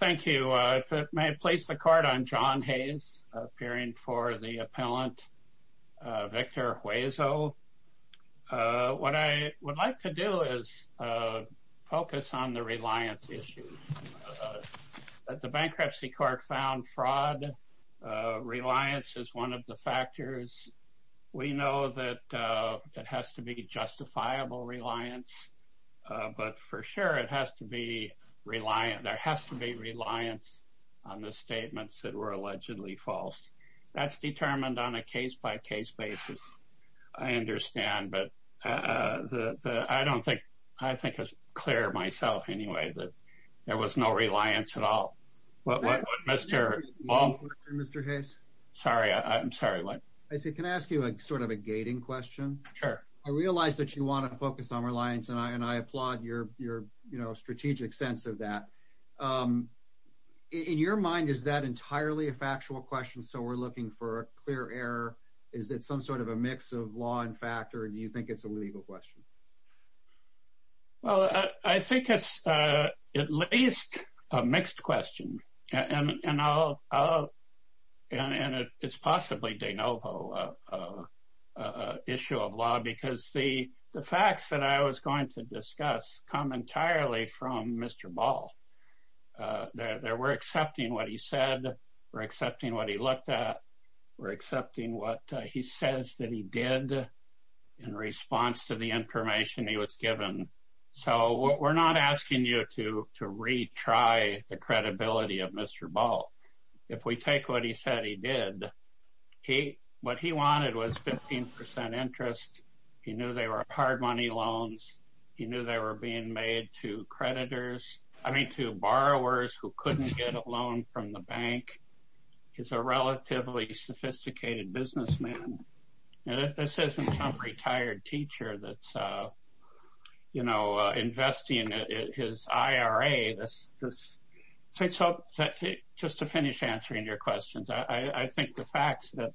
Thank you. If it may place the court on John Hayes, appearing for the appellant Victor Huezo. What I would like to do is focus on the reliance issue. The bankruptcy court found fraud. Reliance is one of the factors. We know that it has to be justifiable reliance. But for sure, it has to be reliant. There has to be reliance on the statements that were allegedly false. That's determined on a case by case basis. I understand. But I don't think I think it's clear myself anyway that there was no reliance at all. Mr. Mr. Hayes. Sorry. I'm sorry. I see. Can I ask you a sort of a gating question? Sure. I realize that you want to focus on reliance and I and I applaud your your strategic sense of that. In your mind, is that entirely a factual question? So we're looking for a clear error. Is it some sort of a mix of law and fact or do you think it's a legal question? Well, I think it's at least a mixed question. And I'll and it's possibly de novo issue of law, because the facts that I was going to discuss come entirely from Mr. Ball. We're accepting what he said. We're accepting what he looked at. We're accepting what he says that he did in response to the information he was given. So we're not asking you to to retry the credibility of Mr. Ball. If we take what he said he did, he what he wanted was 15 percent interest. He knew they were hard money loans. He knew they were being made to creditors. I mean, to borrowers who couldn't get a loan from the bank. He's a relatively sophisticated businessman. This isn't some retired teacher that's, you know, investing in his IRA. So just to finish answering your questions, I think the facts that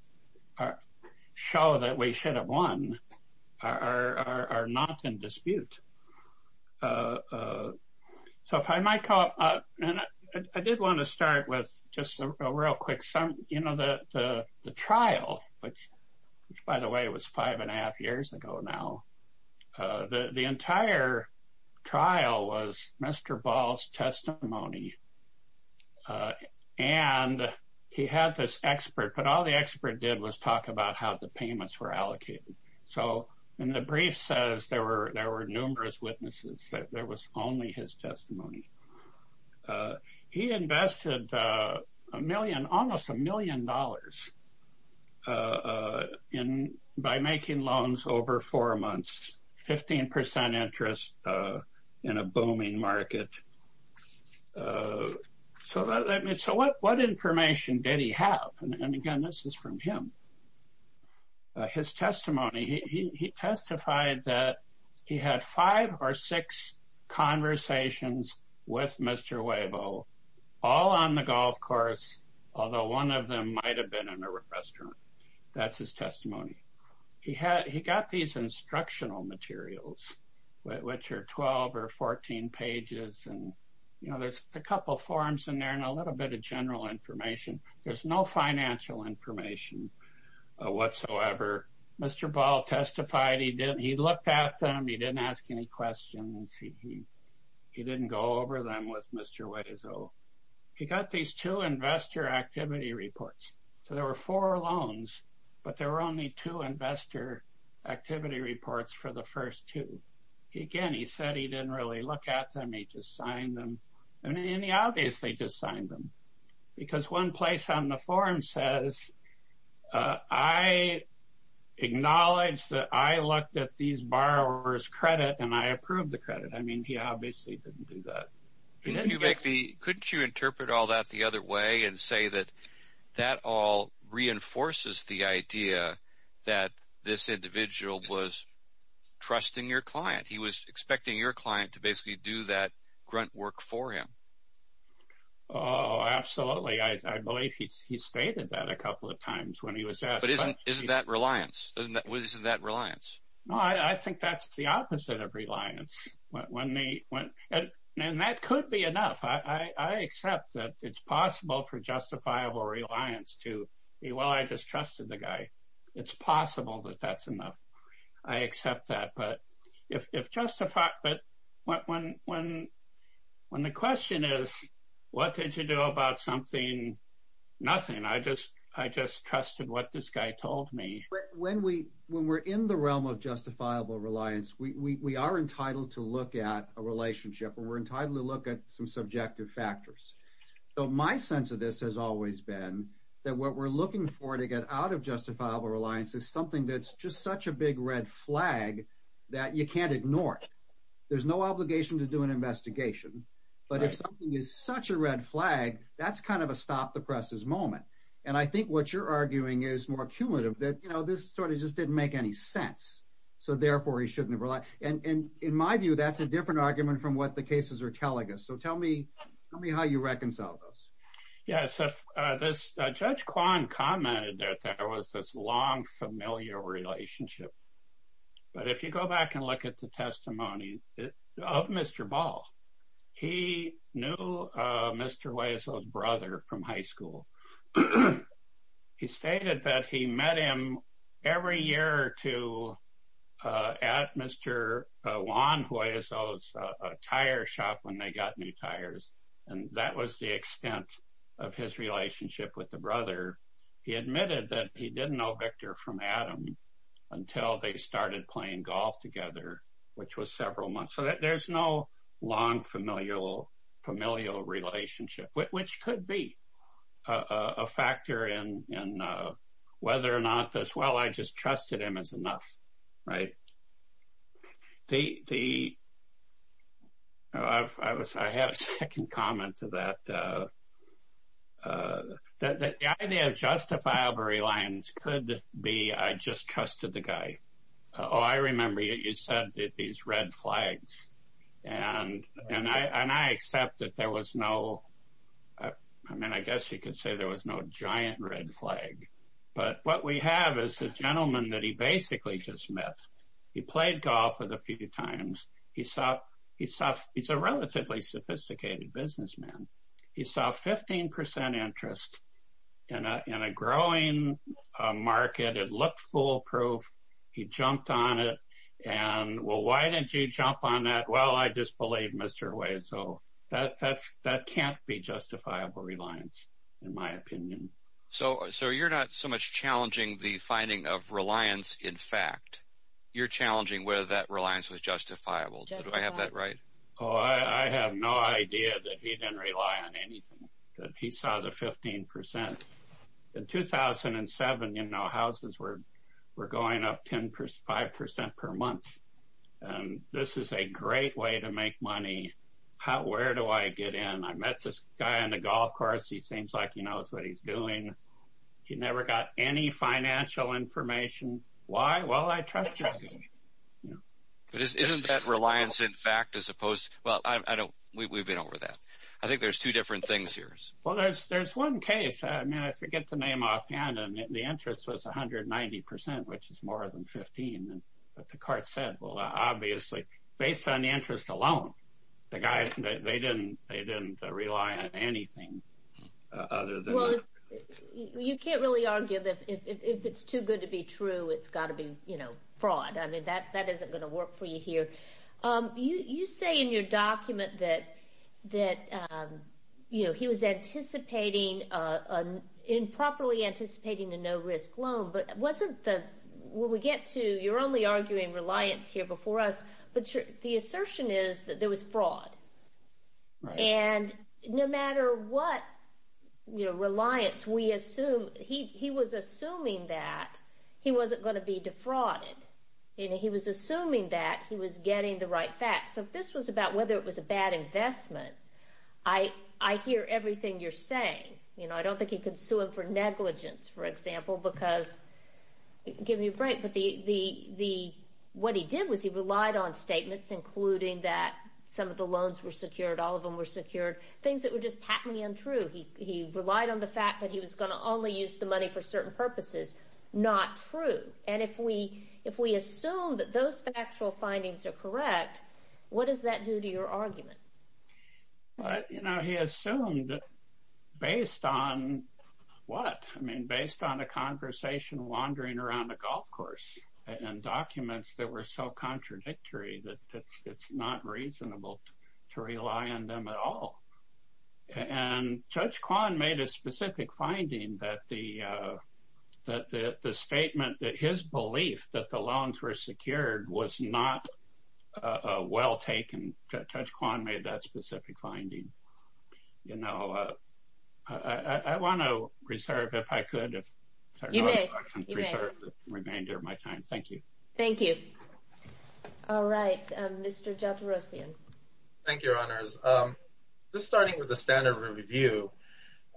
show that we should have won are not in dispute. So if I might call up and I did want to start with just a real quick sum. You know, the trial, which, by the way, was five and a half years ago. Now, the entire trial was Mr. Ball's testimony. And he had this expert, but all the expert did was talk about how the payments were allocated. So in the brief says there were there were numerous witnesses that there was only his testimony. He invested a million, almost a million dollars in by making loans over four months, 15 percent interest in a booming market. So what information did he have? And again, this is from him. His testimony, he testified that he had five or six conversations with Mr. Weibo all on the golf course, although one of them might have been in a restaurant. That's his testimony. He had he got these instructional materials, which are 12 or 14 pages. And, you know, there's a couple of forms in there and a little bit of general information. There's no financial information whatsoever. Mr. Ball testified he did. He looked at them. He didn't ask any questions. He didn't go over them with Mr. Weizel. He got these two investor activity reports. So there were four loans, but there were only two investor activity reports for the first two. Again, he said he didn't really look at them. He just signed them. And he obviously just signed them because one place on the form says, I acknowledge that I looked at these borrowers credit and I approved the credit. I mean, he obviously didn't do that. You make the couldn't you interpret all that the other way and say that that all reinforces the idea that this individual was trusting your client. He was expecting your client to basically do that grunt work for him. Oh, absolutely. I believe he stated that a couple of times when he was. But isn't that reliance? Isn't that reliance? No, I think that's the opposite of reliance. When they went. And that could be enough. I accept that it's possible for justifiable reliance to be. Well, I just trusted the guy. It's possible that that's enough. I accept that. But if justified. But when when when the question is, what did you do about something? Nothing. I just I just trusted what this guy told me. When we when we're in the realm of justifiable reliance, we are entitled to look at a relationship and we're entitled to look at some subjective factors. So my sense of this has always been that what we're looking for to get out of justifiable reliance is something that's just such a big red flag that you can't ignore. There's no obligation to do an investigation. But if something is such a red flag, that's kind of a stop the presses moment. And I think what you're arguing is more cumulative that, you know, this sort of just didn't make any sense. So therefore, he shouldn't have. And in my view, that's a different argument from what the cases are telling us. So tell me, tell me how you reconcile those. Yes. This judge Kwan commented that there was this long familiar relationship. But if you go back and look at the testimony of Mr. Ball, he knew Mr. Weisel's brother from high school. He stated that he met him every year or two at Mr. Kwan's tire shop when they got new tires. And that was the extent of his relationship with the brother. He admitted that he didn't know Victor from Adam until they started playing golf together, which was several months. So there's no long familial familial relationship, which could be a factor in whether or not as well. I just trusted him as enough. Right. The. I have a second comment to that. The idea of justifiable reliance could be I just trusted the guy. Oh, I remember you said that these red flags and and I and I accept that there was no. I mean, I guess you could say there was no giant red flag. But what we have is a gentleman that he basically just met. He played golf with a few times. He saw he saw he's a relatively sophisticated businessman. He saw 15 percent interest in a growing market. It looked foolproof. He jumped on it. And well, why didn't you jump on that? Well, I just believe Mr. Wade. So that that's that can't be justifiable reliance, in my opinion. So so you're not so much challenging the finding of reliance. In fact, you're challenging whether that reliance was justifiable. Do I have that right? Oh, I have no idea that he didn't rely on anything that he saw the 15 percent in 2007. You know, houses were were going up 10 percent, 5 percent per month. And this is a great way to make money. How? Where do I get in? I met this guy on the golf course. He seems like he knows what he's doing. He never got any financial information. Why? Well, I trust you. Isn't that reliance, in fact, as opposed? Well, I don't we've been over that. I think there's two different things here. Well, there's there's one case. I mean, I forget the name offhand. And the interest was one hundred ninety percent, which is more than 15. But the court said, well, obviously, based on the interest alone, the guy, they didn't they didn't rely on anything other than. You can't really argue that if it's too good to be true, it's got to be, you know, fraud. I mean, that that isn't going to work for you here. You say in your document that that, you know, he was anticipating improperly anticipating a no risk loan. But wasn't that when we get to you're only arguing reliance here before us. But the assertion is that there was fraud. And no matter what reliance we assume, he he was assuming that he wasn't going to be defrauded. He was assuming that he was getting the right facts. So this was about whether it was a bad investment. I, I hear everything you're saying. You know, I don't think he could sue him for negligence, for example, because give me a break. But the the the what he did was he relied on statements, including that some of the loans were secured. All of them were secured. Things that were just patently untrue. He he relied on the fact that he was going to only use the money for certain purposes. Not true. And if we if we assume that those actual findings are correct, what does that do to your argument? But, you know, he assumed that based on what I mean, based on a conversation wandering around a golf course and documents that were so contradictory that it's not reasonable to rely on them at all. And Judge Kwan made a specific finding that the that the statement that his belief that the loans were secured was not well taken. Judge Kwan made that specific finding. You know, I want to reserve if I could. If you may reserve the remainder of my time. Thank you. Thank you. All right. Thank you, Your Honors. Just starting with the standard review.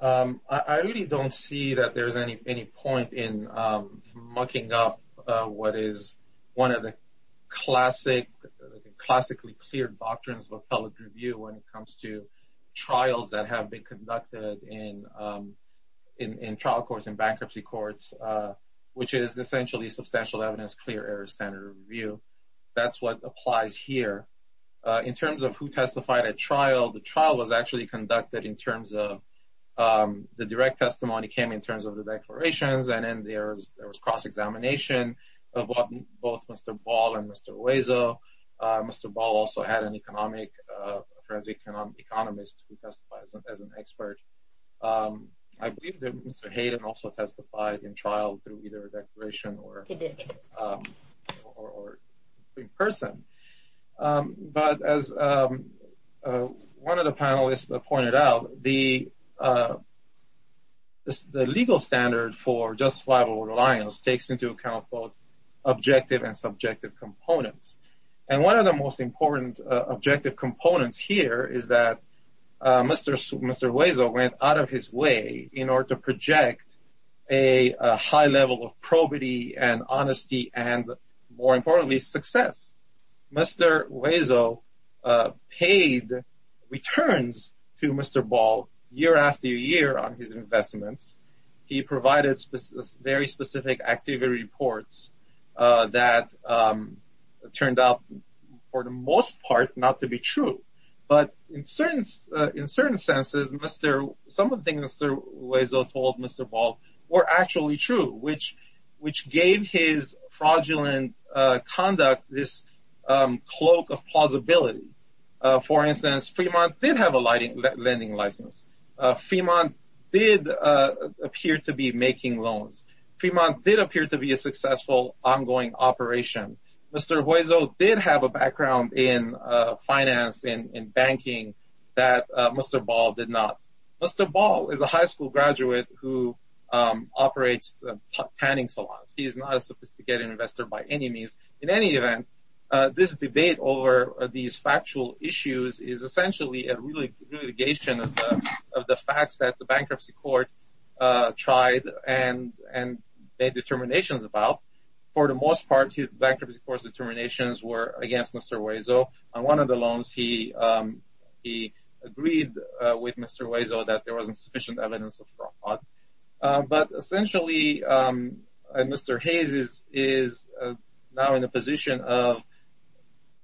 I really don't see that there is any any point in mucking up what is one of the classic classically cleared doctrines of appellate review when it comes to trials that have been conducted in in trial courts and bankruptcy courts, which is essentially substantial evidence. Clear air standard review. That's what applies here in terms of who testified at trial. The trial was actually conducted in terms of the direct testimony came in terms of the declarations. But as one of the panelists pointed out, the. The legal standard for justifiable reliance takes into account both objective and subjective components. And one of the most important objective components here is that Mr. Weasel went out of his way in order to project a high level of probity and honesty and more importantly, success. Mr. Weasel paid returns to Mr. Ball year after year on his investments. He provided very specific activity reports that turned out for the most part not to be true. But in certain in certain senses, Mr. Some of the things Mr. Weasel told Mr. Ball were actually true, which which gave his fraudulent conduct this cloak of plausibility. For instance, Fremont did have a lighting lending license. Fremont did appear to be making loans. Fremont did appear to be a successful ongoing operation. Mr. Weasel did have a background in finance and banking that Mr. Ball did not. Mr. Ball is a high school graduate who operates the tanning salons. He is not a sophisticated investor by any means. In any event, this debate over these factual issues is essentially a really litigation of the facts that the bankruptcy court tried and made determinations about. For the most part, his bankruptcy court's determinations were against Mr. Weasel. On one of the loans, he he agreed with Mr. Weasel that there wasn't sufficient evidence of fraud. But essentially, Mr. Hayes is now in a position of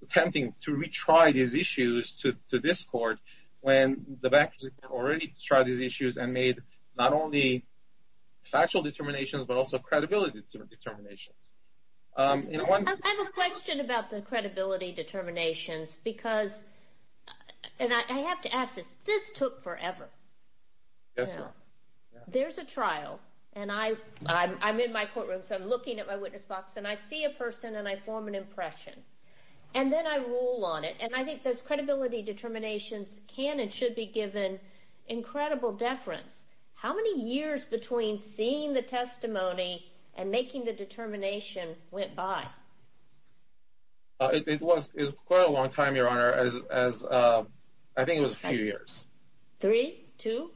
attempting to retry these issues to this court when the bankruptcy court already tried these issues and made not only factual determinations, but also credibility determinations. I have a question about the credibility determinations because, and I have to ask this, this took forever. There's a trial, and I'm in my courtroom, so I'm looking at my witness box, and I see a person and I form an impression. And then I rule on it, and I think those credibility determinations can and should be given incredible deference. How many years between seeing the testimony and making the determination went by? It was quite a long time, Your Honor. I think it was a few years. Three? Two?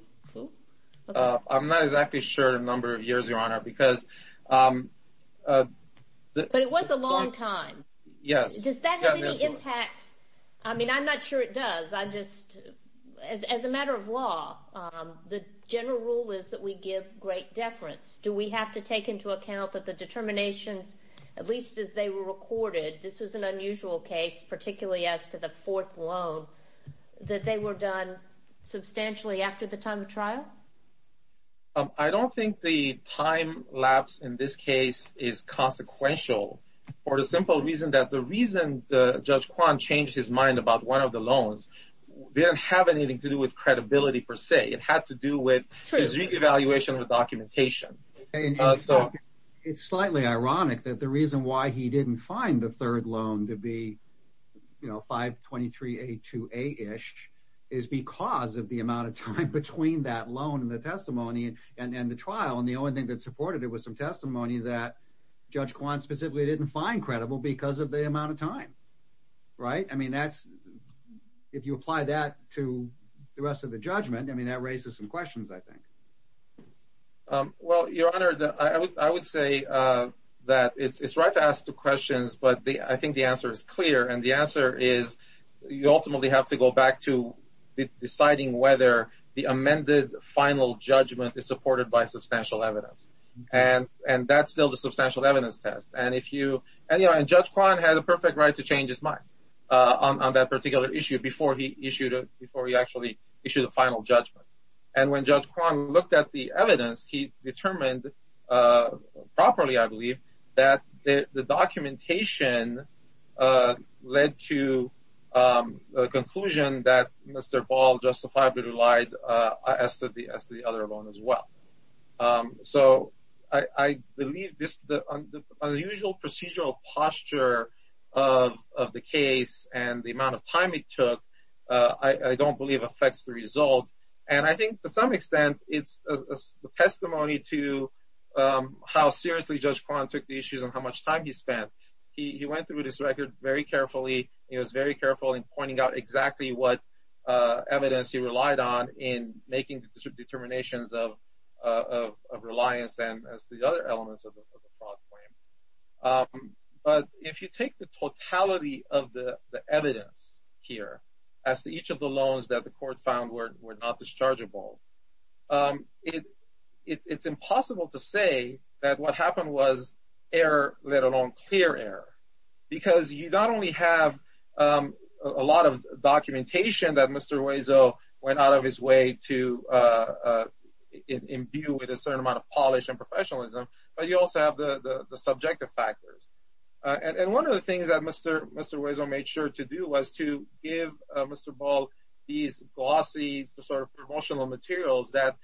I'm not exactly sure the number of years, Your Honor, because... But it was a long time. Yes. Does that have any impact? I mean, I'm not sure it does. As a matter of law, the general rule is that we give great deference. Do we have to take into account that the determinations, at least as they were recorded, this was an unusual case, particularly as to the fourth loan, that they were done substantially after the time of trial? I don't think the time lapse in this case is consequential. For the simple reason that the reason Judge Kwan changed his mind about one of the loans didn't have anything to do with credibility per se. It had to do with his re-evaluation of the documentation. It's slightly ironic that the reason why he didn't find the third loan to be 523A2A-ish is because of the amount of time between that loan and the testimony and the trial, and the only thing that supported it was some testimony that Judge Kwan specifically didn't find credible because of the amount of time. Right? I mean, if you apply that to the rest of the judgment, that raises some questions, I think. Well, Your Honor, I would say that it's right to ask the questions, but I think the answer is clear. And the answer is you ultimately have to go back to deciding whether the amended final judgment is supported by substantial evidence. And that's still the substantial evidence test. And Judge Kwan had a perfect right to change his mind on that particular issue before he actually issued a final judgment. And when Judge Kwan looked at the evidence, he determined properly, I believe, that the documentation led to a conclusion that Mr. Ball justifiably lied as to the other loan as well. So I believe the unusual procedural posture of the case and the amount of time it took, I don't believe, affects the result. And I think to some extent it's a testimony to how seriously Judge Kwan took the issues and how much time he spent. He went through this record very carefully. He was very careful in pointing out exactly what evidence he relied on in making determinations of reliance and the other elements of the fraud claim. But if you take the totality of the evidence here as to each of the loans that the court found were not dischargeable, it's impossible to say that what happened was error, let alone clear error. Because you not only have a lot of documentation that Mr. Hueso went out of his way to imbue with a certain amount of polish and professionalism, but you also have the subjective factors. And one of the things that Mr. Hueso made sure to do was to give Mr. Ball these glossy promotional materials that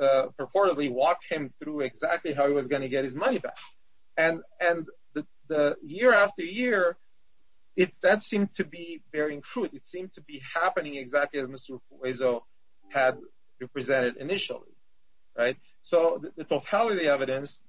purportedly walked him through exactly how he was going to get his money back. And year after year, that seemed to be bearing fruit. It seemed to be happening exactly as Mr. Hueso had represented initially. So the totality of the evidence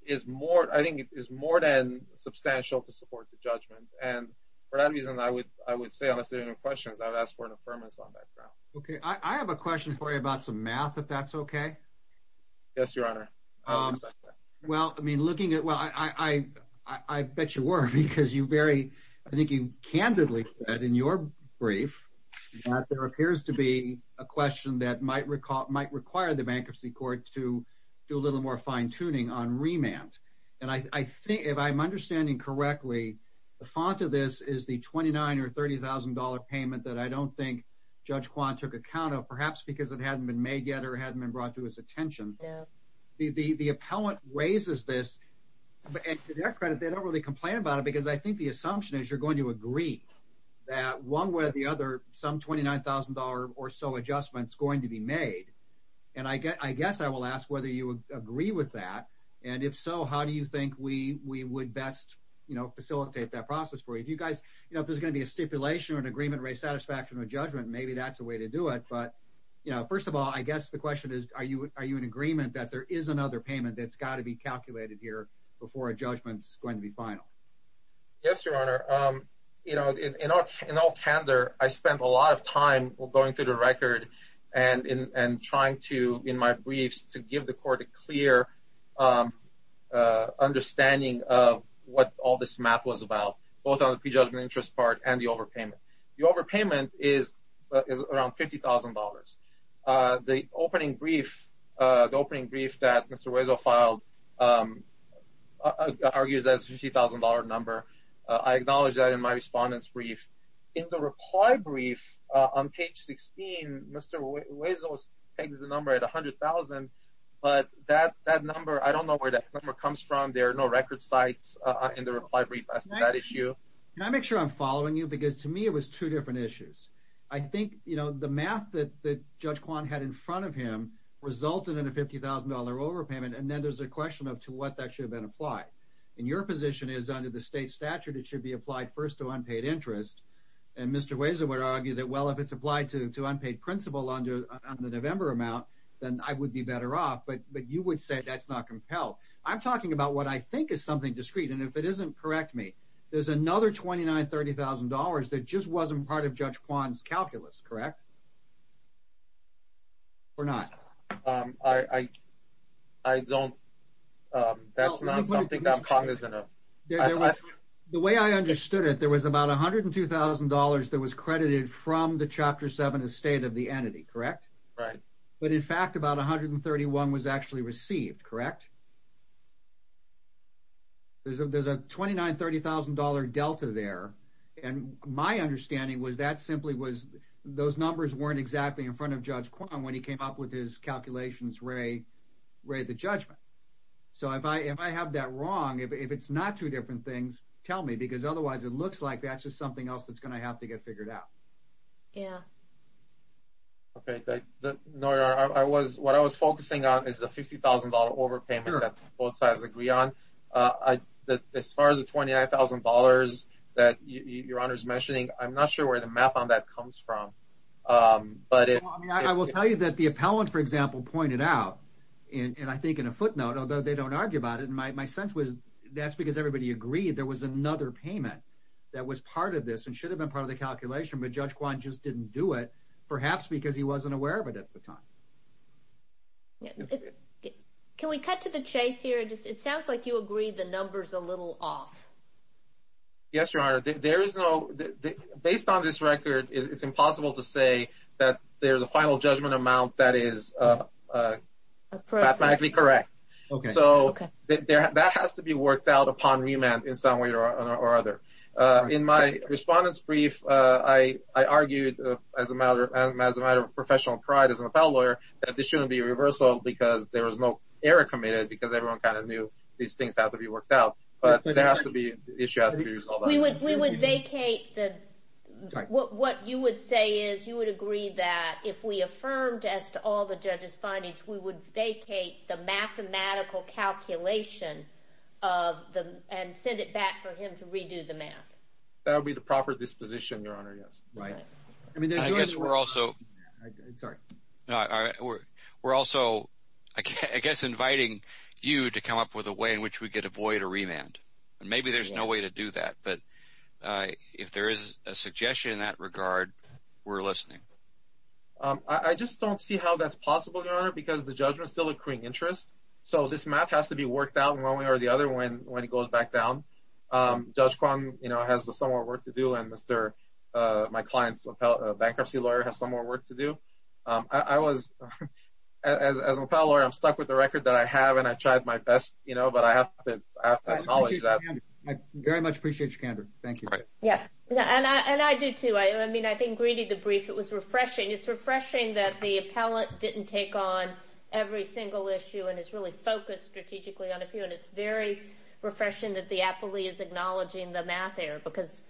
is more than substantial to support the judgment. And for that reason, I would say unless there are any questions, I would ask for an affirmance on that ground. Okay. I have a question for you about some math, if that's okay. Yes, Your Honor. Well, I bet you were, because I think you candidly said in your brief that there appears to be a question that might require the bankruptcy court to do a little more fine-tuning on remand. And if I'm understanding correctly, the font of this is the $29,000 or $30,000 payment that I don't think Judge Kwan took account of, perhaps because it hadn't been made yet or hadn't been brought to his attention. The appellant raises this, and to their credit, they don't really complain about it, because I think the assumption is you're going to agree that one way or the other, some $29,000 or so adjustment is going to be made. And I guess I will ask whether you agree with that. And if so, how do you think we would best facilitate that process for you? If there's going to be a stipulation or an agreement to raise satisfaction or judgment, maybe that's a way to do it. But first of all, I guess the question is, are you in agreement that there is another payment that's got to be calculated here before a judgment's going to be final? Yes, Your Honor. In all candor, I spent a lot of time going through the record and trying to, in my briefs, to give the court a clear understanding of what all this math was about, both on the prejudgment interest part and the overpayment. The overpayment is around $50,000. The opening brief that Mr. Hueso filed argues that it's a $50,000 number. I acknowledge that in my respondent's brief. In the reply brief on page 16, Mr. Hueso pegs the number at $100,000, but that number, I don't know where that number comes from. There are no record sites in the reply brief as to that issue. Can I make sure I'm following you? Because to me, it was two different issues. I think the math that Judge Kwan had in front of him resulted in a $50,000 overpayment, and then there's a question of to what that should have been applied. And your position is under the state statute, it should be applied first to unpaid interest. And Mr. Hueso would argue that, well, if it's applied to unpaid principal on the November amount, then I would be better off. But you would say that's not compelled. I'm talking about what I think is something discrete. And if it isn't, correct me, there's another $29,000, $30,000 that just wasn't part of Judge Kwan's calculus, correct? Or not? I don't – that's not something I'm cognizant of. The way I understood it, there was about $102,000 that was credited from the Chapter 7 estate of the entity, correct? Right. But, in fact, about $131,000 was actually received, correct? There's a $29,000, $30,000 delta there, and my understanding was that simply was – those numbers weren't exactly in front of Judge Kwan when he came up with his calculations, Ray, the judgment. So if I have that wrong, if it's not two different things, tell me, because otherwise it looks like that's just something else that's going to have to get figured out. Yeah. Okay. No, Your Honor, I was – what I was focusing on is the $50,000 overpayment that both sides agree on. As far as the $29,000 that Your Honor is mentioning, I'm not sure where the math on that comes from. I will tell you that the appellant, for example, pointed out, and I think in a footnote, although they don't argue about it, my sense was that's because everybody agreed there was another payment that was part of this and should have been part of the calculation, but Judge Kwan just didn't do it, perhaps because he wasn't aware of it at the time. Can we cut to the chase here? It sounds like you agree the number's a little off. Yes, Your Honor. There is no – based on this record, it's impossible to say that there's a final judgment amount that is mathematically correct. Okay. So that has to be worked out upon remand in some way or other. In my respondent's brief, I argued as a matter of professional pride as an appellate lawyer that this shouldn't be a reversal because there was no error committed because everyone kind of knew these things have to be worked out. But there has to be – the issue has to be resolved. We would vacate the – what you would say is you would agree that if we affirmed as to all the judge's findings, we would vacate the mathematical calculation and send it back for him to redo the math. That would be the proper disposition, Your Honor, yes. I guess we're also – we're also I guess inviting you to come up with a way in which we could avoid a remand, and maybe there's no way to do that. But if there is a suggestion in that regard, we're listening. I just don't see how that's possible, Your Honor, because the judgment is still accruing interest. So this math has to be worked out in one way or the other when it goes back down. Judge Kwong has some more work to do, and my client's bankruptcy lawyer has some more work to do. I was – as an appellate lawyer, I'm stuck with the record that I have, and I tried my best, but I have to acknowledge that. I very much appreciate your candor. Thank you. Yeah, and I do too. I mean, I think reading the brief, it was refreshing. It's refreshing that the appellate didn't take on every single issue and is really focused strategically on a few, and it's very refreshing that the appellee is acknowledging the math error, because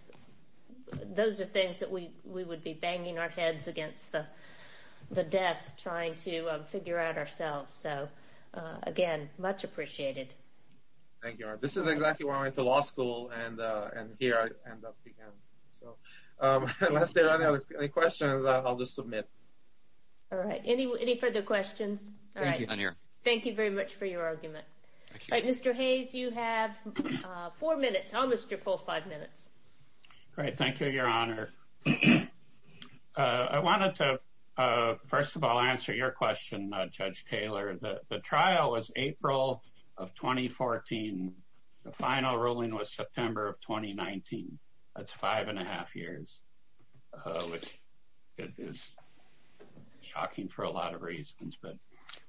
those are things that we would be banging our heads against the desk trying to figure out ourselves. So, again, much appreciated. Thank you, Your Honor. This is exactly why I went to law school, and here I end up again. Unless there are any other questions, I'll just submit. All right. Any further questions? Thank you. Thank you very much for your argument. All right, Mr. Hayes, you have four minutes, almost your full five minutes. Great. Thank you, Your Honor. I wanted to, first of all, answer your question, Judge Taylor. The trial was April of 2014. The final ruling was September of 2019. That's five and a half years, which is shocking for a lot of reasons.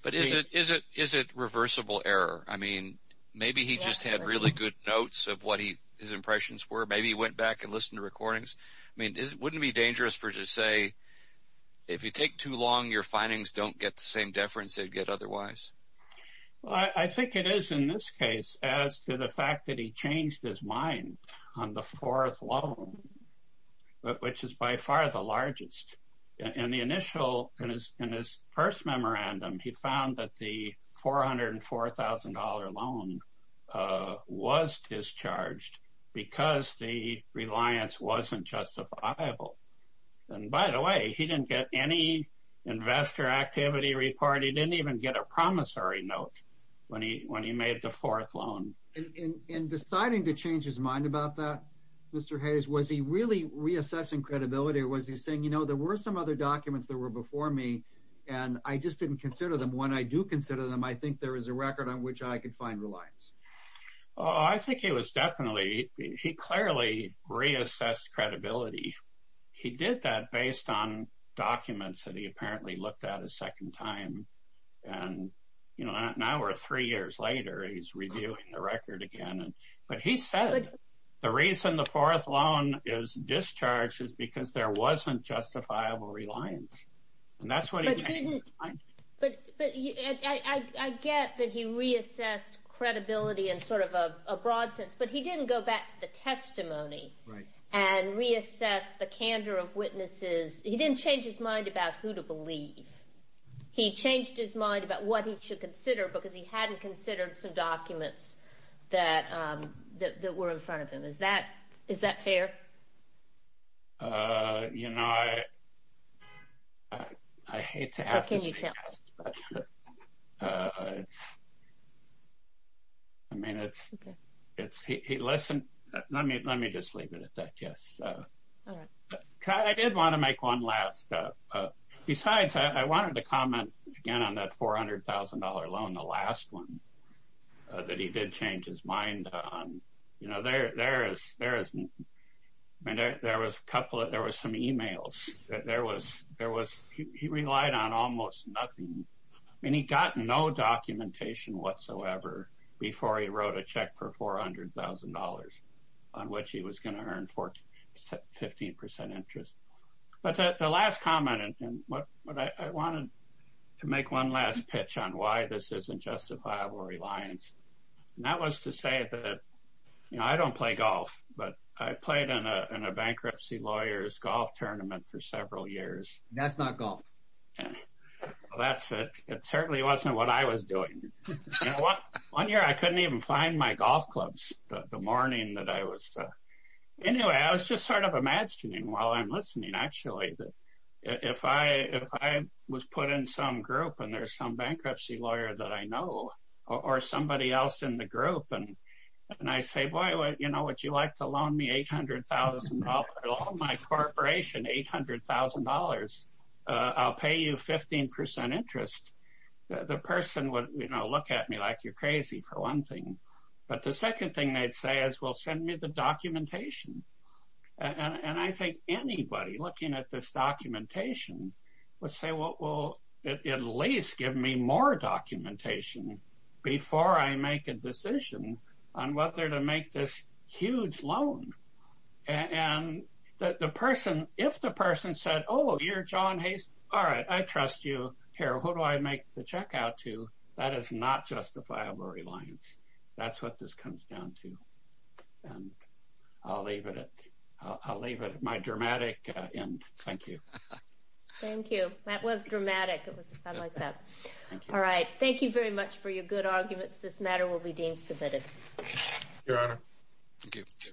But is it reversible error? I mean, maybe he just had really good notes of what his impressions were. Maybe he went back and listened to recordings. I mean, wouldn't it be dangerous for it to say, if you take too long, your findings don't get the same deference they'd get otherwise? Well, I think it is in this case as to the fact that he changed his mind on the fourth loan, which is by far the largest. In the initial, in his first memorandum, he found that the $404,000 loan was discharged because the reliance wasn't justifiable. And by the way, he didn't get any investor activity report. He didn't even get a promissory note when he made the fourth loan. In deciding to change his mind about that, Mr. Hayes, was he really reassessing credibility? Or was he saying, you know, there were some other documents that were before me, and I just didn't consider them. When I do consider them, I think there is a record on which I could find reliance. I think he was definitely, he clearly reassessed credibility. He did that based on documents that he apparently looked at a second time. And, you know, now we're three years later, he's reviewing the record again. But he said the reason the fourth loan is discharged is because there wasn't justifiable reliance. And that's what he changed his mind. But I get that he reassessed credibility in sort of a broad sense, but he didn't go back to the testimony and reassess the candor of witnesses. He didn't change his mind about who to believe. He changed his mind about what he should consider, because he hadn't considered some documents that were in front of him. Is that fair? You know, I hate to ask this. How can you tell? I mean, it's, listen, let me just leave it at that, yes. I did want to make one last, besides, I wanted to comment again on that $400,000 loan, the last one that he did change his mind on. You know, there was a couple, there was some e-mails. He relied on almost nothing. I mean, he got no documentation whatsoever before he wrote a check for $400,000, on which he was going to earn 15% interest. But the last comment, and I wanted to make one last pitch on why this isn't justifiable reliance. And that was to say that, you know, I don't play golf, but I played in a bankruptcy lawyer's golf tournament for several years. That's not golf. That's it. It certainly wasn't what I was doing. One year I couldn't even find my golf clubs the morning that I was. Anyway, I was just sort of imagining while I'm listening, actually, that if I was put in some group and there's some bankruptcy lawyer that I know, or somebody else in the group, and I say, boy, you know, would you like to loan me $800,000? Loan my corporation $800,000. I'll pay you 15% interest. The person would, you know, look at me like you're crazy for one thing. But the second thing they'd say is, well, send me the documentation. And I think anybody looking at this documentation would say, well, at least give me more documentation before I make a decision on whether to make this huge loan. And if the person said, oh, you're John Hayes, all right, I trust you. Who do I make the check out to? That is not justifiable reliance. That's what this comes down to. And I'll leave it at my dramatic end. Thank you. Thank you. That was dramatic. I like that. All right. Thank you very much for your good arguments. This matter will be deemed submitted. Your Honor. Thank you.